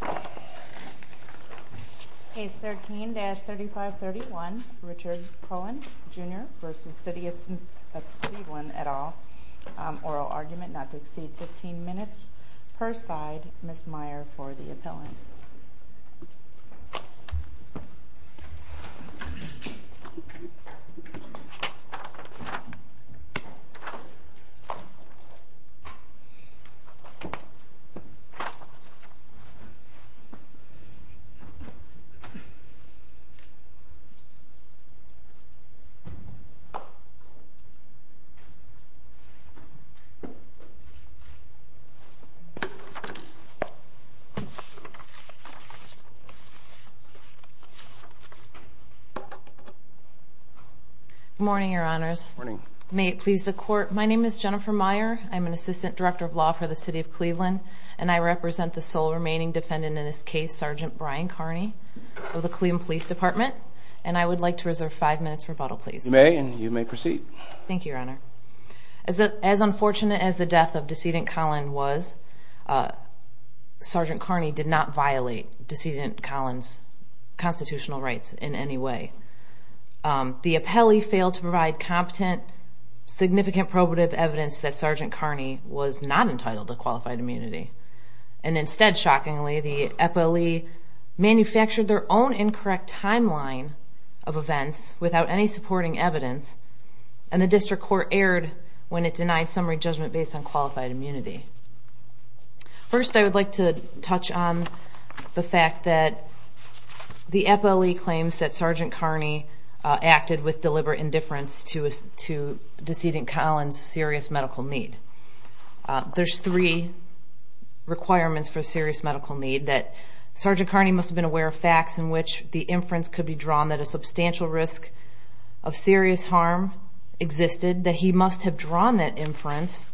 at all. Oral argument not to exceed 15 minutes per side. Ms. Meyer for the appellant. Morning, Your Honors. Morning. May it please the court. My name is Jennifer Meyer. I'm an assistant director of law for the City of Cleveland, and I represent the sole remaining defendant in this case, Sgt. Brian Kearney of the Cleveland Police Department. And I would like to reserve five minutes for rebuttal, please. You may, and you may proceed. Thank you, Your Honor. As unfortunate as the death of Decedent Kollin was, Sgt. Kearney did not violate Decedent Kollin's constitutional rights in any way. The appellee failed to provide competent, significant probative evidence that Sgt. Kearney was not entitled to qualified immunity, and instead manufactured their own incorrect timeline of events without any supporting evidence, and the district court erred when it denied summary judgment based on qualified immunity. First, I'd like to touch on the fact that the appellee claims that Sgt. Kearney acted with deliberate indifference to Decedent Kollin's serious medical need. There are three requirements for serious medical need. Sgt. Kearney must have been aware of facts in which the inference could be drawn that a substantial risk of serious harm existed, that he must have drawn that inference,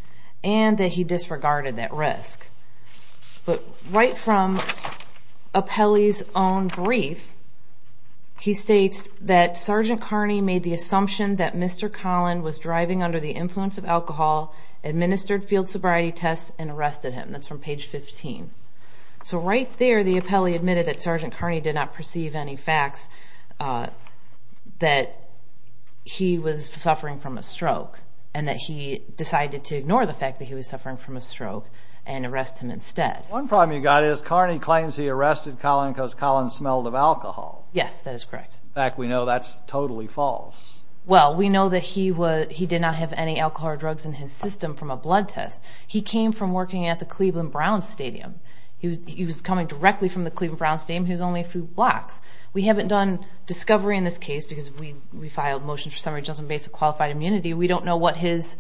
and that he disregarded that risk. But right from appellee's own brief, he states that Sgt. Kearney made the assumption that Mr. Kollin was driving under the influence of alcohol, administered field sobriety tests, and arrested him. That's from page 15. So right there, the appellee admitted that Sgt. Kearney did not perceive any facts that he was suffering from a stroke, and that he decided to ignore the fact that he was suffering from a stroke and arrest him instead. One problem you've got is Kearney claims he arrested Kollin because Kollin smelled of alcohol. Yes, that is correct. In fact, we know that's totally false. Well, we know that he did not have any alcohol or drugs in his system from a blood test. He came from working at the Cleveland Browns Stadium. He was coming directly from the Cleveland Browns Stadium. He was only a few blocks. We haven't done discovery in this case because we filed motions for summary judgment based on qualified immunity. We don't know what his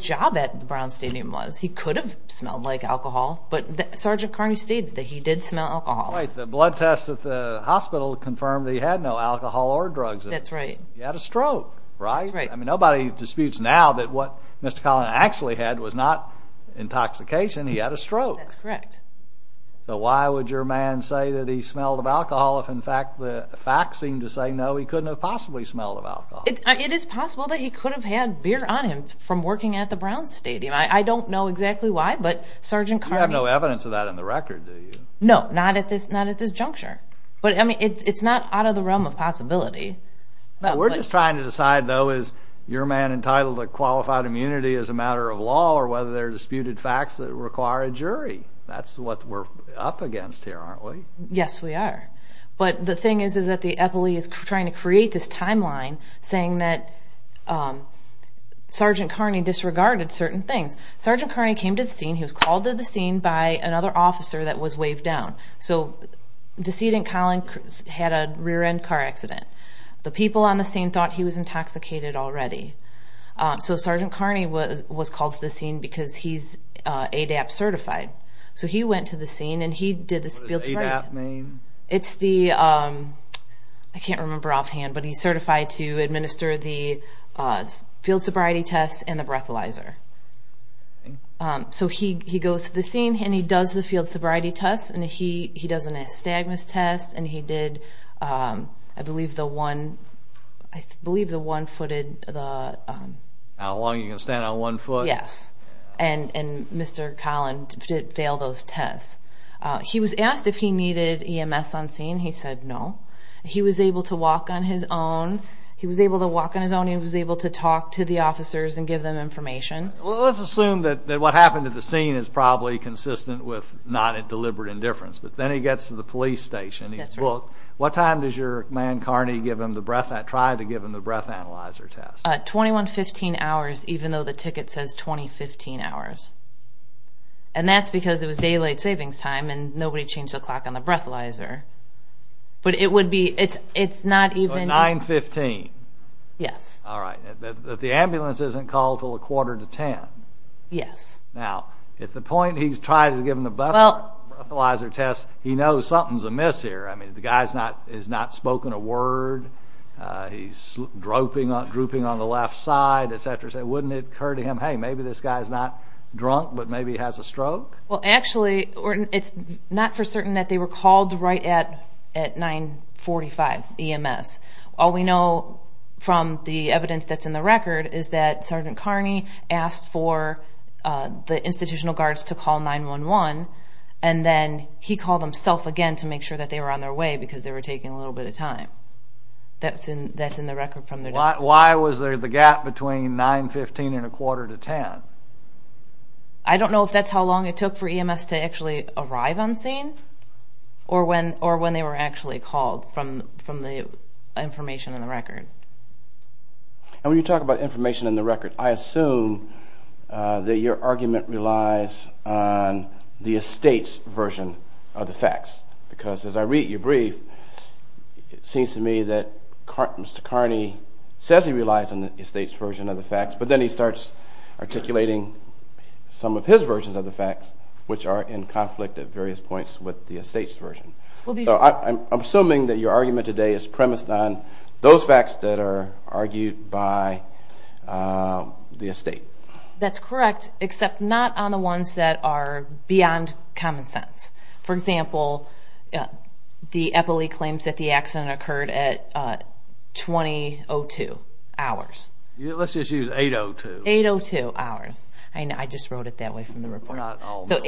job at the Browns Stadium was. He could have smelled like alcohol, but Sgt. Kearney stated that he did smell alcohol. Right. The blood test at the hospital confirmed that he had no alcohol or drugs in his system. That's right. He had a stroke, right? That's right. I mean, nobody disputes now that what Mr. Kollin actually had was not intoxication. He had a stroke. That's correct. So why would your man say that he smelled of alcohol if, in fact, the facts seem to say, no, he couldn't have possibly smelled of alcohol? It is possible that he could have had beer on him from working at the Browns Stadium. I don't know exactly why, but Sgt. Kearney... You have no evidence of that in the record, do you? No, not at this juncture. But, I mean, it's not out of the realm of possibility. We're just trying to decide, though, is your man entitled to qualified immunity as a matter of law or whether there are disputed facts that require a jury. That's what we're up against here, aren't we? Yes, we are. But the thing is, is that the epile is trying to create this timeline saying that Sgt. Kearney disregarded certain things. Sgt. Kearney came to the scene. He was called to the scene by another officer that was waved down. So decedent Kollin had a rear-end car accident. The people on the scene thought he was intoxicated already. So Sgt. Kearney was called to the scene because he's ADAP certified. So he went to the scene, and he did the field sobriety test. What does ADAP mean? It's the... I can't remember offhand, but he's certified to administer the field sobriety test and the breathalyzer. So he goes to the scene, and he does the field sobriety test, and he does a nystagmus test, and he did, I believe, the one-footed... How long are you going to stand on one foot? Yes. And Mr. Kollin failed those tests. He was asked if he needed EMS on scene. He said no. He was able to walk on his own. He was able to walk on his own. He was able to talk to the officers and give them information. Let's assume that what happened at the scene is probably consistent with not a deliberate indifference. But then he gets to the police station. He's booked. What time does your man, Kearney, try to give him the breathalyzer test? 2115 hours, even though the ticket says 2015 hours. And that's because it was daylight savings time, and nobody changed the clock on the breathalyzer. But it would be... It's not even... 915. Yes. All right. The ambulance isn't called until a quarter to ten. Yes. Now, if the point he's trying to give him the breathalyzer test, he knows something's amiss here. I mean, the guy has not spoken a word. He's drooping on the left side, etc. So wouldn't it occur to him, hey, maybe this guy's not drunk, but maybe he has a stroke? Well, actually, it's not for certain that they were called right at 945 EMS. All we know from the evidence that's in the record is that Sergeant Kearney asked for the institutional guards to call 911, and then he called himself again to make sure that they were on their way because they were taking a little bit of time. That's in the record from the... Why was there the gap between 915 and a quarter to ten? I don't know if that's how long it took for EMS to actually arrive on scene or when they were actually called from the information in the record. And when you talk about information in the record, I assume that your argument relies on the estate's version of the facts because as I read your brief, it seems to me that Mr. Kearney says he relies on the estate's version of the facts, but then he starts articulating some of his versions of the facts, which are in conflict at various points with the estate's version. So I'm assuming that your argument today is premised on those facts that are argued by the estate. That's correct, except not on the ones that are beyond common sense. For example, the EPLI claims that the accident occurred at 20.02 hours. Let's just use 8.02. 8.02 hours. I just wrote it that way from the report. We're not all know. So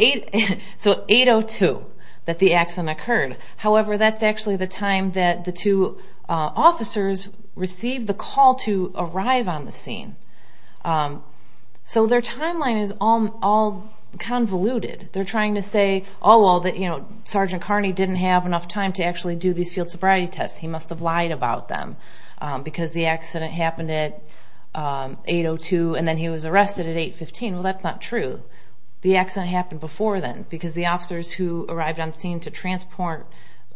8.02 that the accident occurred. However, that's actually the time that the two officers received the call to arrive on the scene. So their timeline is all convoluted. They're trying to say, oh, well, Sergeant Kearney didn't have enough time to actually do these field sobriety tests. He must have lied about them because the accident happened at 8.02 and then he was arrested at 8.15. Well, that's not true. The accident happened before then because the officers who arrived on scene to transport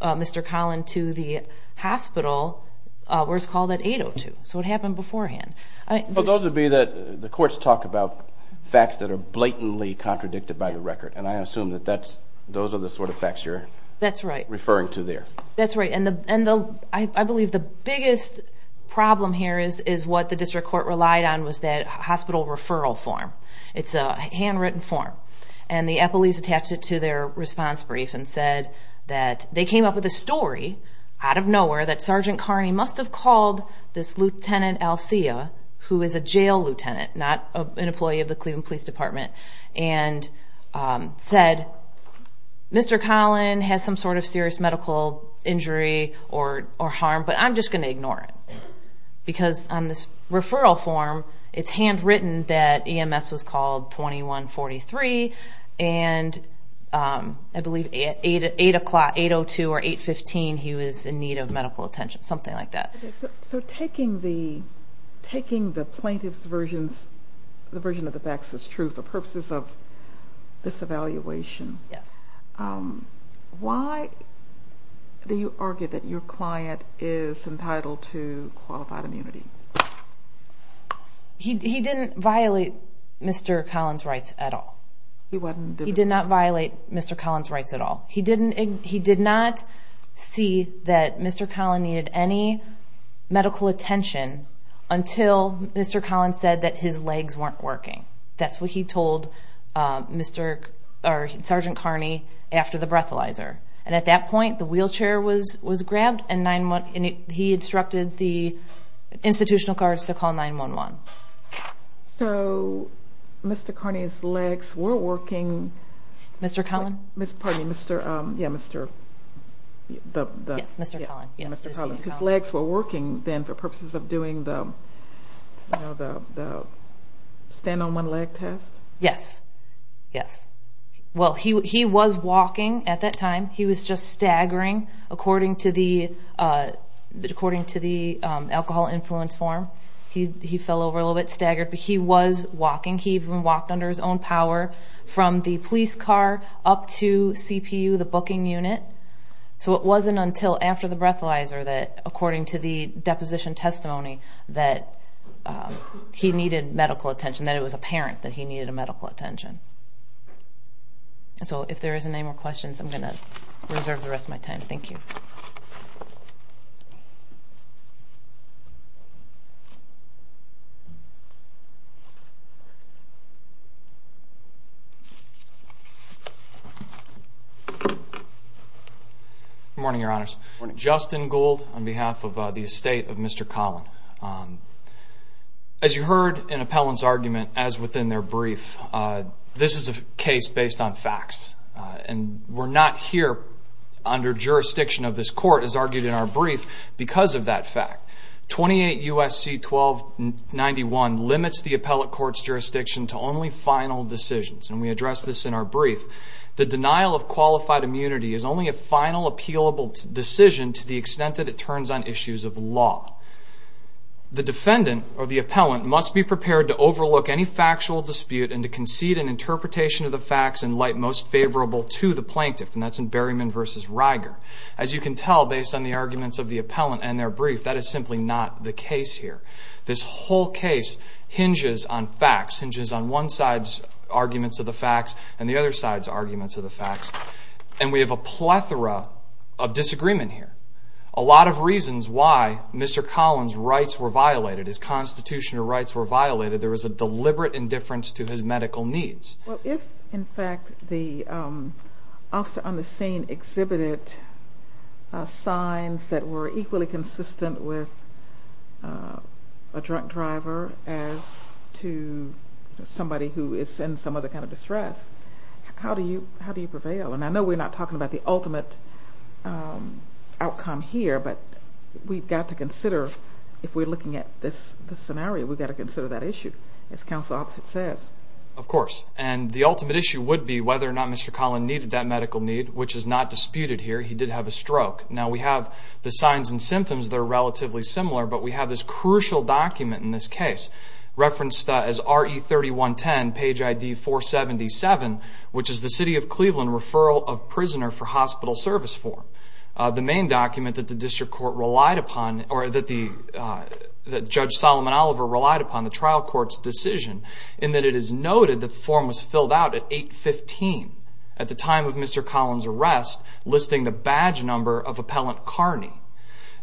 Mr. Collin to the hospital were called at 8.02. So it happened beforehand. Well, those would be the courts talk about facts that are blatantly contradicted by the record, and I assume that those are the sort of facts you're referring to there. That's right. And I believe the biggest problem here is what the district court relied on was that hospital referral form. It's a handwritten form. And the police attached it to their response brief and said that they came up with a story out of nowhere that Sergeant Kearney must have called this Lieutenant Alcia, who is a jail lieutenant, not an employee of the Cleveland Police Department, and said, Mr. Collin has some sort of serious medical injury or harm, but I'm just going to ignore it. Because on this referral form, it's handwritten that EMS was called 2143, and I believe 8.02 or 8.15 he was in need of medical attention, something like that. So taking the plaintiff's version, the version of the facts that's true for purposes of this evaluation, why do you argue that your client is entitled to qualified immunity? He didn't violate Mr. Collin's rights at all. He wasn't? He did not violate Mr. Collin's rights at all. He did not see that Mr. Collin needed any medical attention until Mr. Collin said that his legs weren't working. That's what he told Sergeant Kearney after the breathalyzer. And at that point, the wheelchair was grabbed, and he instructed the institutional guards to call 911. So Mr. Kearney's legs were working? Mr. Collin? Yes, Mr. Collin. His legs were working then for purposes of doing the stand-on-one-leg test? Yes, yes. Well, he was walking at that time. He was just staggering according to the alcohol influence form. He fell over a little bit, staggered, but he was walking. He even walked under his own power from the police car up to CPU, the booking unit. So it wasn't until after the breathalyzer that, according to the deposition testimony, that he needed medical attention, that it was apparent that he needed medical attention. So if there isn't any more questions, I'm going to reserve the rest of my time. Thank you. Good morning, Your Honors. Good morning. Justin Gould on behalf of the estate of Mr. Collin. As you heard in appellant's argument, as within their brief, this is a case based on facts. And we're not here under jurisdiction of this court, as argued in our brief, because of that fact. 28 U.S.C. 1291 limits the appellate court's jurisdiction to only final decisions, and we address this in our brief. The denial of qualified immunity is only a final, appealable decision to the extent that it turns on issues of law. The defendant or the appellant must be prepared to overlook any factual dispute and to concede an interpretation of the facts in light most favorable to the plaintiff, and that's in Berryman v. Riger. As you can tell, based on the arguments of the appellant and their brief, that is simply not the case here. This whole case hinges on facts, hinges on one side's arguments of the facts and the other side's arguments of the facts, and we have a plethora of disagreement here. A lot of reasons why Mr. Collin's rights were violated, his constitutional rights were violated, there was a deliberate indifference to his medical needs. Well, if, in fact, the officer on the scene exhibited signs that were equally consistent with a drunk driver as to somebody who is in some other kind of distress, how do you prevail? And I know we're not talking about the ultimate outcome here, but we've got to consider, if we're looking at this scenario, we've got to consider that issue, as counsel opposite says. Of course. And the ultimate issue would be whether or not Mr. Collin needed that medical need, which is not disputed here. He did have a stroke. Now, we have the signs and symptoms that are relatively similar, but we have this crucial document in this case referenced as RE3110, page ID 477, which is the City of Cleveland referral of prisoner for hospital service form, the main document that the district court relied upon, or that Judge Solomon Oliver relied upon, on the trial court's decision, in that it is noted the form was filled out at 8-15, at the time of Mr. Collin's arrest, listing the badge number of Appellant Carney.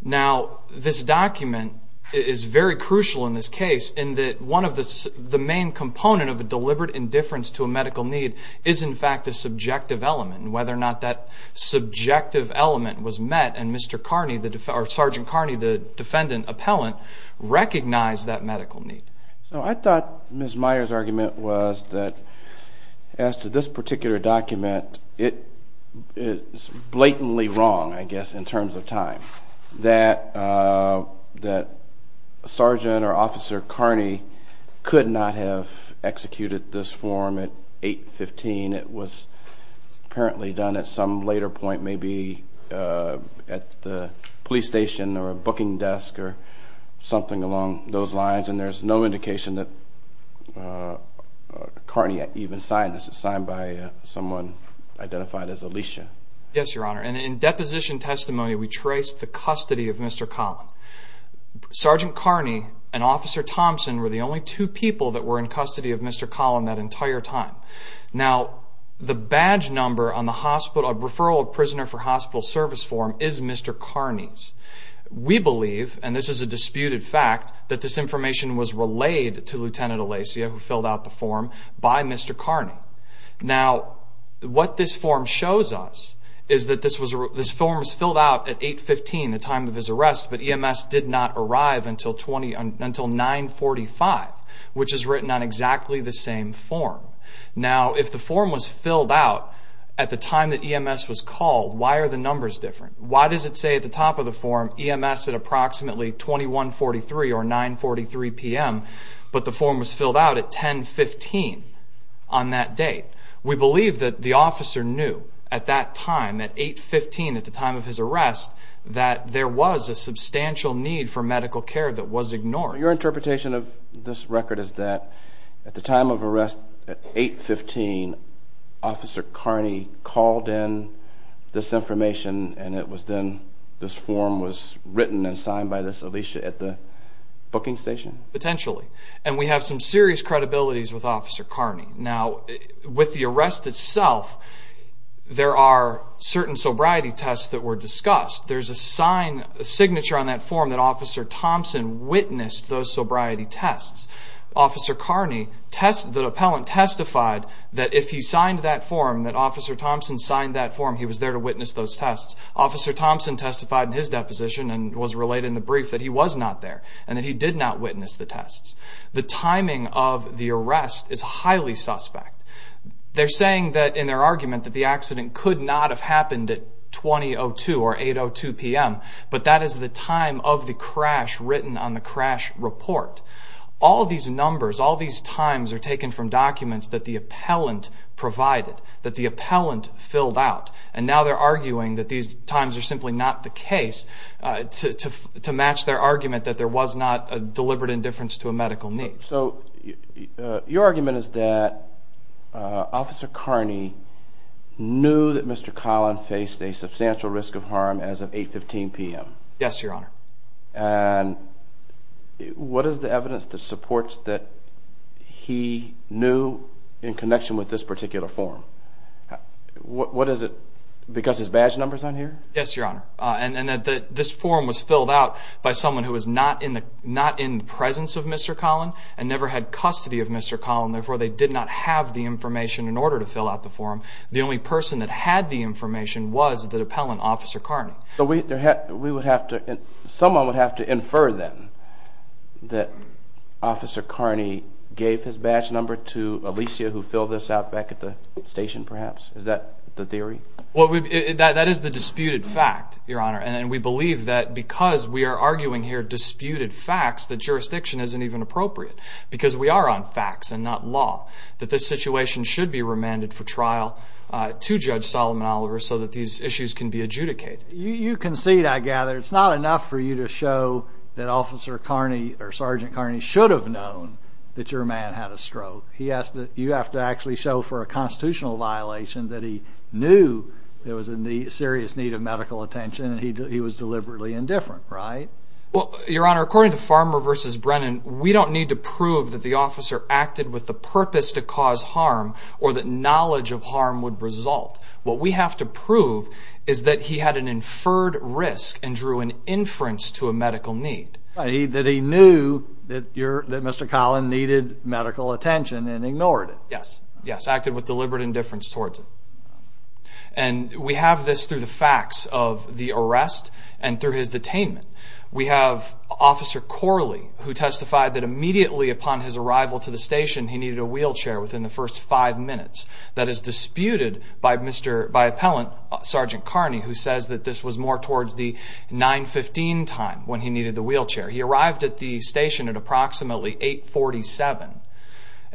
Now, this document is very crucial in this case, in that one of the main components of a deliberate indifference to a medical need is, in fact, the subjective element, and whether or not that subjective element was met and Sergeant Carney, the defendant appellant, recognized that medical need. So I thought Ms. Meyer's argument was that, as to this particular document, it is blatantly wrong, I guess, in terms of time, that Sergeant or Officer Carney could not have executed this form at 8-15. It was apparently done at some later point, maybe at the police station or a booking desk or something along those lines, and there's no indication that Carney even signed this. It's signed by someone identified as Alicia. Yes, Your Honor, and in deposition testimony, we traced the custody of Mr. Collin. Sergeant Carney and Officer Thompson were the only two people that were in custody of Mr. Collin that entire time. Now, the badge number on the referral of prisoner for hospital service form is Mr. Carney's. We believe, and this is a disputed fact, that this information was relayed to Lieutenant Alacia, who filled out the form, by Mr. Carney. Now, what this form shows us is that this form was filled out at 8-15, the time of his arrest, but EMS did not arrive until 9-45, which is written on exactly the same form. Now, if the form was filled out at the time that EMS was called, why are the numbers different? Why does it say at the top of the form, EMS at approximately 21-43 or 9-43 p.m., but the form was filled out at 10-15 on that date? We believe that the officer knew at that time, at 8-15, at the time of his arrest, that there was a substantial need for medical care that was ignored. Your interpretation of this record is that at the time of arrest, at 8-15, Officer Carney called in this information, and it was then this form was written and signed by this Alicia at the booking station? Potentially, and we have some serious credibilities with Officer Carney. Now, with the arrest itself, there are certain sobriety tests that were discussed. There's a signature on that form that Officer Thompson witnessed those sobriety tests. Officer Carney, the appellant, testified that if he signed that form, that Officer Thompson signed that form, he was there to witness those tests. Officer Thompson testified in his deposition and was related in the brief that he was not there and that he did not witness the tests. The timing of the arrest is highly suspect. They're saying in their argument that the accident could not have happened at 20-02 or 8-02 p.m., but that is the time of the crash written on the crash report. All these numbers, all these times are taken from documents that the appellant provided, that the appellant filled out, and now they're arguing that these times are simply not the case to match their argument that there was not a deliberate indifference to a medical need. So your argument is that Officer Carney knew that Mr. Collin faced a substantial risk of harm as of 8-15 p.m.? Yes, Your Honor. And what is the evidence that supports that he knew in connection with this particular form? What is it because his badge number is on here? Yes, Your Honor. This form was filled out by someone who was not in the presence of Mr. Collin and never had custody of Mr. Collin, therefore they did not have the information in order to fill out the form. The only person that had the information was the appellant, Officer Carney. Someone would have to infer then that Officer Carney gave his badge number to Alicia who filled this out back at the station perhaps? Is that the theory? That is the disputed fact, Your Honor. And we believe that because we are arguing here disputed facts, the jurisdiction isn't even appropriate because we are on facts and not law, that this situation should be remanded for trial to Judge Solomon Oliver so that these issues can be adjudicated. You concede, I gather, it's not enough for you to show that Officer Carney or Sergeant Carney should have known that your man had a stroke. You have to actually show for a constitutional violation that he knew there was a serious need of medical attention and he was deliberately indifferent, right? Well, Your Honor, according to Farmer v. Brennan, we don't need to prove that the officer acted with the purpose to cause harm or that knowledge of harm would result. What we have to prove is that he had an inferred risk and drew an inference to a medical need. That he knew that Mr. Collin needed medical attention and ignored it. Yes, yes, acted with deliberate indifference towards it. And we have this through the facts of the arrest and through his detainment. We have Officer Corley who testified that immediately upon his arrival to the station he needed a wheelchair within the first five minutes. That is disputed by an appellant, Sergeant Carney, who says that this was more towards the 9-15 time when he needed the wheelchair. He arrived at the station at approximately 8-47.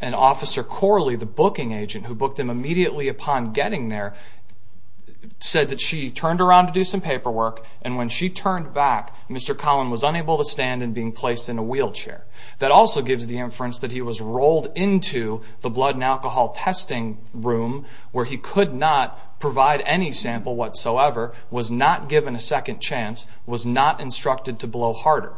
And Officer Corley, the booking agent who booked him immediately upon getting there, said that she turned around to do some paperwork and when she turned back Mr. Collin was unable to stand and being placed in a wheelchair. That also gives the inference that he was rolled into the blood and alcohol testing room where he could not provide any sample whatsoever, was not given a second chance, was not instructed to blow harder.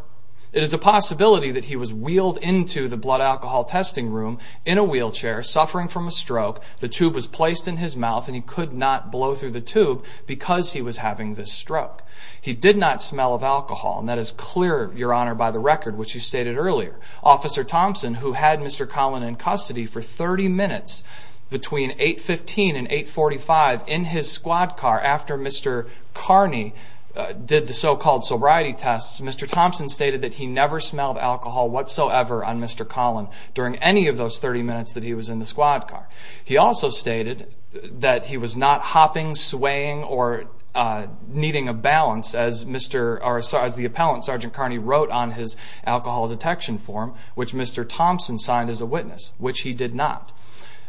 It is a possibility that he was wheeled into the blood alcohol testing room in a wheelchair suffering from a stroke, the tube was placed in his mouth, and he could not blow through the tube because he was having this stroke. He did not smell of alcohol and that is clear, Your Honor, by the record which you stated earlier. Officer Thompson, who had Mr. Collin in custody for 30 minutes between 8-15 and 8-45 in his squad car after Mr. Carney did the so-called sobriety tests, Mr. Thompson stated that he never smelled alcohol whatsoever on Mr. Collin during any of those 30 minutes that he was in the squad car. He also stated that he was not hopping, swaying, or needing a balance as the appellant, Sergeant Carney, wrote on his alcohol detection form, which Mr. Thompson signed as a witness, which he did not.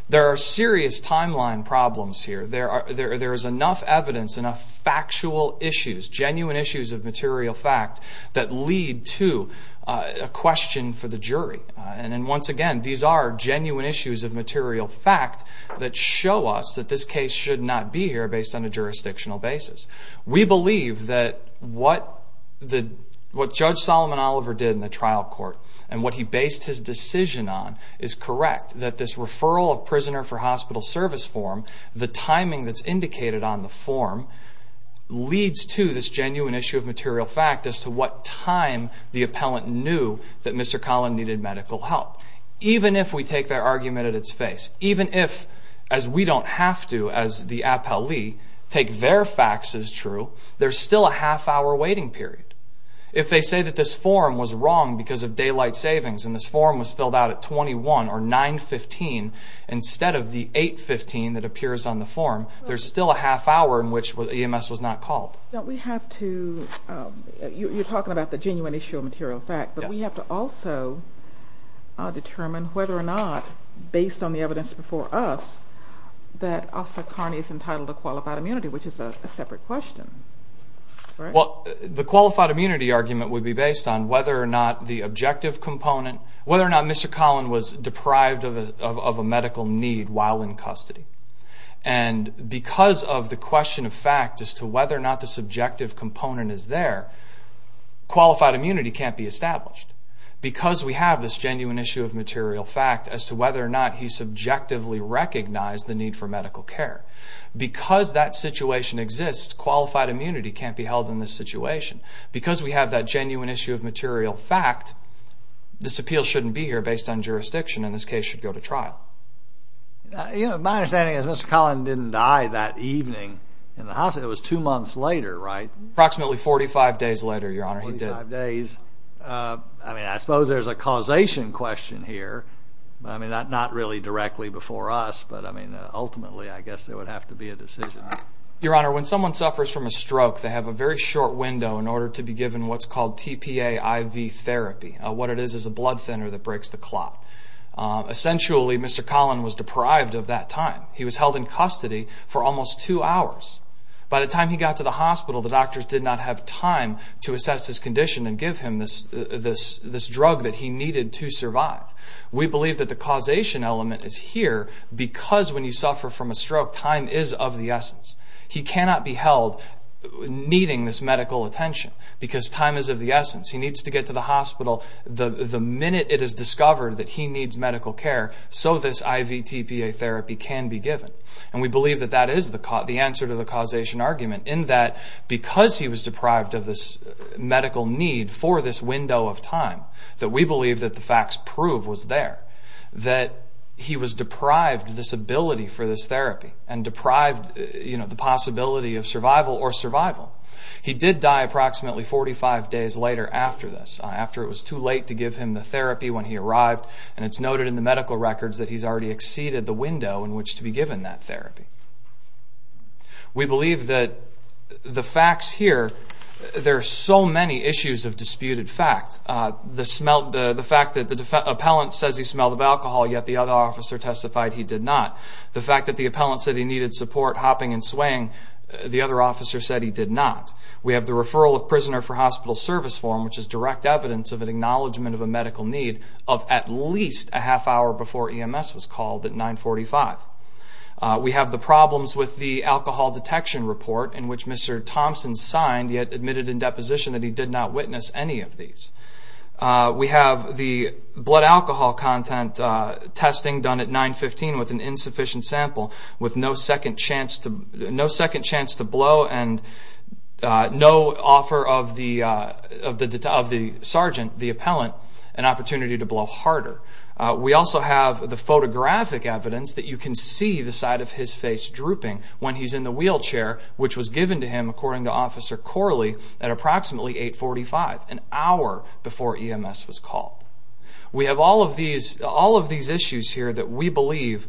There are serious timeline problems here. There is enough evidence, enough factual issues, genuine issues of material fact that lead to a question for the jury. And once again, these are genuine issues of material fact that show us that this case should not be here based on a jurisdictional basis. We believe that what Judge Solomon Oliver did in the trial court and what he based his decision on is correct, that this referral of prisoner for hospital service form, the timing that's indicated on the form, leads to this genuine issue of material fact as to what time the appellant knew that Mr. Collin needed medical help. Even if we take their argument at its face, even if, as we don't have to as the appellee, take their facts as true, there's still a half-hour waiting period. If they say that this form was wrong because of daylight savings and this form was filled out at 21 or 915 instead of the 815 that appears on the form, there's still a half-hour in which EMS was not called. You're talking about the genuine issue of material fact, but we have to also determine whether or not, based on the evidence before us, that Officer Carney is entitled to qualified immunity, which is a separate question. The qualified immunity argument would be based on whether or not the objective component, whether or not Mr. Collin was deprived of a medical need while in custody. Because of the question of fact as to whether or not the subjective component is there, qualified immunity can't be established. Because we have this genuine issue of material fact as to whether or not he subjectively recognized the need for medical care, because that situation exists, qualified immunity can't be held in this situation. Because we have that genuine issue of material fact, this appeal shouldn't be here based on jurisdiction, and this case should go to trial. My understanding is Mr. Collin didn't die that evening in the hospital. It was two months later, right? Approximately 45 days later, Your Honor, he did. Forty-five days. I mean, I suppose there's a causation question here. I mean, not really directly before us, but, I mean, ultimately I guess there would have to be a decision. Your Honor, when someone suffers from a stroke, they have a very short window in order to be given what's called TPA IV therapy, what it is is a blood thinner that breaks the clot. Essentially, Mr. Collin was deprived of that time. He was held in custody for almost two hours. By the time he got to the hospital, the doctors did not have time to assess his condition and give him this drug that he needed to survive. We believe that the causation element is here, because when you suffer from a stroke, time is of the essence. He cannot be held needing this medical attention, because time is of the essence. He needs to get to the hospital the minute it is discovered that he needs medical care so this IV TPA therapy can be given. And we believe that that is the answer to the causation argument, in that because he was deprived of this medical need for this window of time, that we believe that the facts prove was there, that he was deprived of this ability for this therapy and deprived of the possibility of survival or survival. He did die approximately 45 days later after this, after it was too late to give him the therapy when he arrived, and it's noted in the medical records that he's already exceeded the window in which to be given that therapy. We believe that the facts here, there are so many issues of disputed facts. The fact that the appellant says he smelled of alcohol, yet the other officer testified he did not. The fact that the appellant said he needed support hopping and swaying, the other officer said he did not. We have the referral of prisoner for hospital service form, which is direct evidence of an acknowledgment of a medical need of at least a half hour before EMS was called at 945. We have the problems with the alcohol detection report, in which Mr. Thompson signed yet admitted in deposition that he did not witness any of these. We have the blood alcohol content testing done at 915 with an insufficient sample, with no second chance to blow and no offer of the sergeant, the appellant, an opportunity to blow harder. We also have the photographic evidence that you can see the side of his face drooping when he's in the wheelchair, which was given to him, according to Officer Corley, at approximately 845, an hour before EMS was called. We have all of these issues here that we believe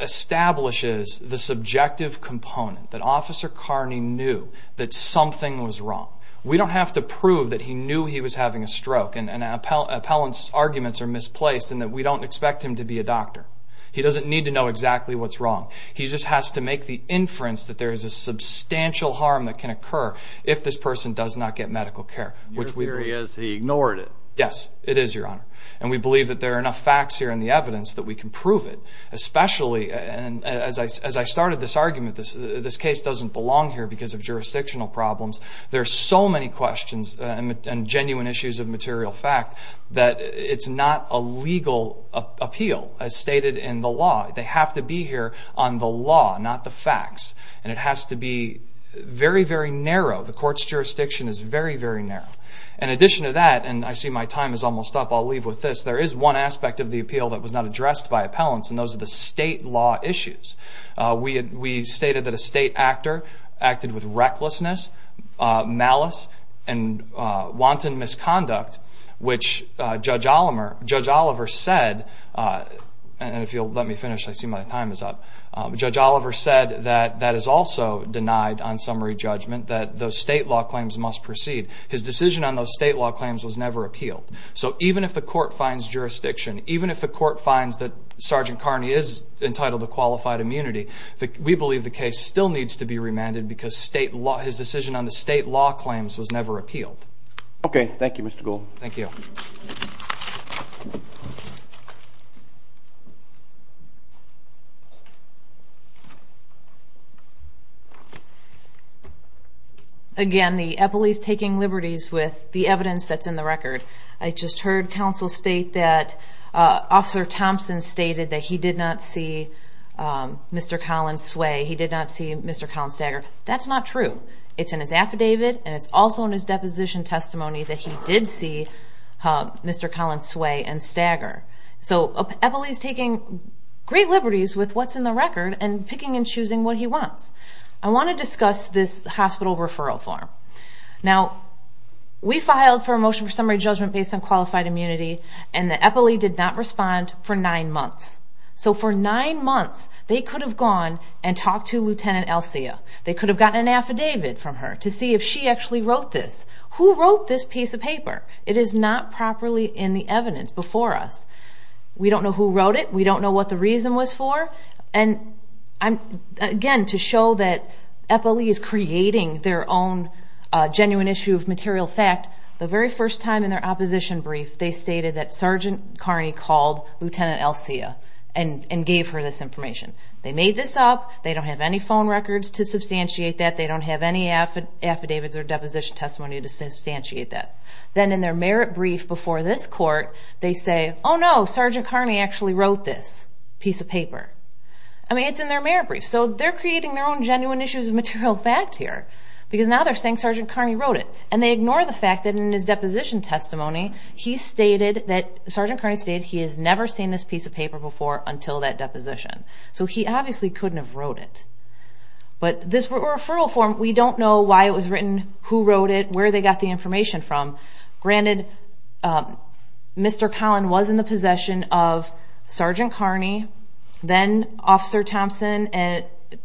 establishes the subjective component, that Officer Carney knew that something was wrong. We don't have to prove that he knew he was having a stroke and an appellant's arguments are misplaced and that we don't expect him to be a doctor. He doesn't need to know exactly what's wrong. He just has to make the inference that there is a substantial harm that can occur if this person does not get medical care. Your theory is he ignored it. Yes, it is, Your Honor, and we believe that there are enough facts here in the evidence that we can prove it, especially as I started this argument, this case doesn't belong here because of jurisdictional problems. There are so many questions and genuine issues of material fact that it's not a legal appeal as stated in the law. They have to be here on the law, not the facts, and it has to be very, very narrow. The court's jurisdiction is very, very narrow. In addition to that, and I see my time is almost up, I'll leave with this, there is one aspect of the appeal that was not addressed by appellants, and those are the state law issues. We stated that a state actor acted with recklessness, malice, and wanton misconduct, which Judge Oliver said, and if you'll let me finish, I see my time is up, Judge Oliver said that that is also denied on summary judgment, that those state law claims must proceed. His decision on those state law claims was never appealed. So even if the court finds jurisdiction, even if the court finds that Sergeant Carney is entitled to qualified immunity, we believe the case still needs to be remanded because his decision on the state law claims was never appealed. Okay. Thank you, Mr. Gould. Thank you. Again, the appellee is taking liberties with the evidence that's in the record. I just heard counsel state that Officer Thompson stated that he did not see Mr. Collins sway, he did not see Mr. Collins stagger. That's not true. It's in his affidavit, and it's also in his deposition testimony that he did see Mr. Collins sway and stagger. So an appellee is taking great liberties with what's in the record and picking and choosing what he wants. I want to discuss this hospital referral form. Now, we filed for a motion for summary judgment based on qualified immunity, and the appellee did not respond for nine months. So for nine months, they could have gone and talked to Lieutenant Elsia. They could have gotten an affidavit from her to see if she actually wrote this. Who wrote this piece of paper? It is not properly in the evidence before us. We don't know who wrote it. We don't know what the reason was for. Again, to show that an appellee is creating their own genuine issue of material fact, the very first time in their opposition brief, they stated that Sergeant Carney called Lieutenant Elsia and gave her this information. They made this up. They don't have any phone records to substantiate that. They don't have any affidavits or deposition testimony to substantiate that. Then in their merit brief before this court, they say, Oh, no, Sergeant Carney actually wrote this piece of paper. I mean, it's in their merit brief. So they're creating their own genuine issues of material fact here because now they're saying Sergeant Carney wrote it, and they ignore the fact that in his deposition testimony, Sergeant Carney stated he has never seen this piece of paper before until that deposition. So he obviously couldn't have wrote it. But this referral form, we don't know why it was written, who wrote it, where they got the information from. Granted, Mr. Collin was in the possession of Sergeant Carney, then Officer Thompson and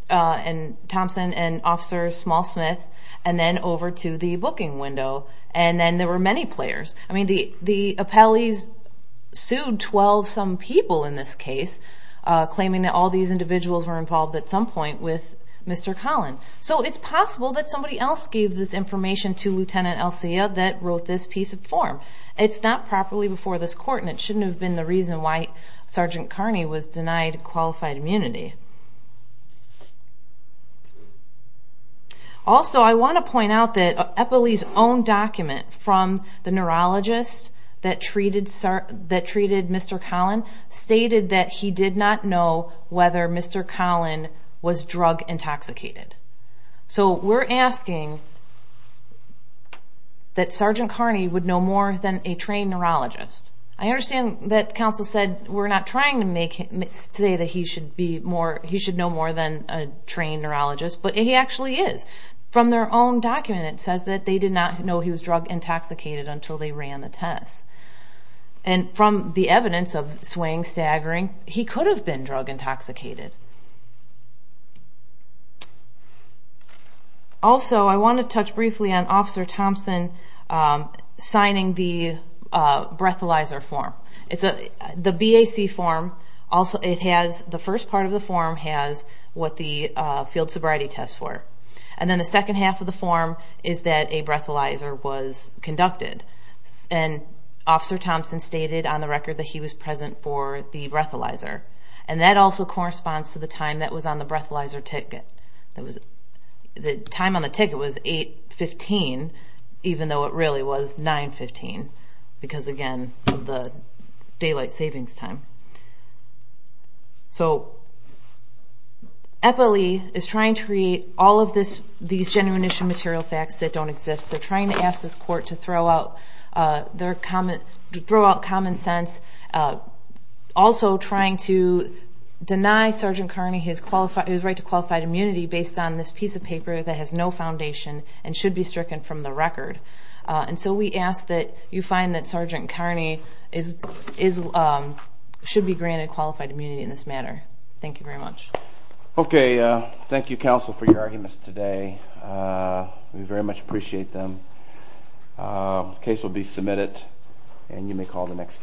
Officer Smallsmith, and then over to the booking window, and then there were many players. I mean, the appellees sued 12-some people in this case, claiming that all these individuals were involved at some point with Mr. Collin. So it's possible that somebody else gave this information to Lieutenant Elsia that wrote this piece of form. It's not properly before this court, and it shouldn't have been the reason why Sergeant Carney was denied qualified immunity. Also, I want to point out that an appellee's own document from the neurologist that treated Mr. Collin stated that he did not know whether Mr. Collin was drug intoxicated. So we're asking that Sergeant Carney would know more than a trained neurologist. I understand that counsel said we're not trying to say that he should know more than a trained neurologist, but he actually is. From their own document, it says that they did not know he was drug intoxicated until they ran the test. And from the evidence of swaying, staggering, he could have been drug intoxicated. Also, I want to touch briefly on Officer Thompson signing the breathalyzer form. The BAC form, the first part of the form has what the field sobriety tests were, and then the second half of the form is that a breathalyzer was conducted. And Officer Thompson stated on the record that he was present for the breathalyzer. And that also corresponds to the time that was on the breathalyzer ticket. The time on the ticket was 8.15, even though it really was 9.15, because, again, of the daylight savings time. So, appellee is trying to create all of these genuine issue material facts that don't exist. They're trying to ask this court to throw out common sense, also trying to deny Sergeant Kearney his right to qualified immunity based on this piece of paper that has no foundation and should be stricken from the record. And so we ask that you find that Sergeant Kearney should be granted qualified immunity in this matter. Thank you very much. Okay, thank you, counsel, for your arguments today. We very much appreciate them. The case will be submitted, and you may call the next case.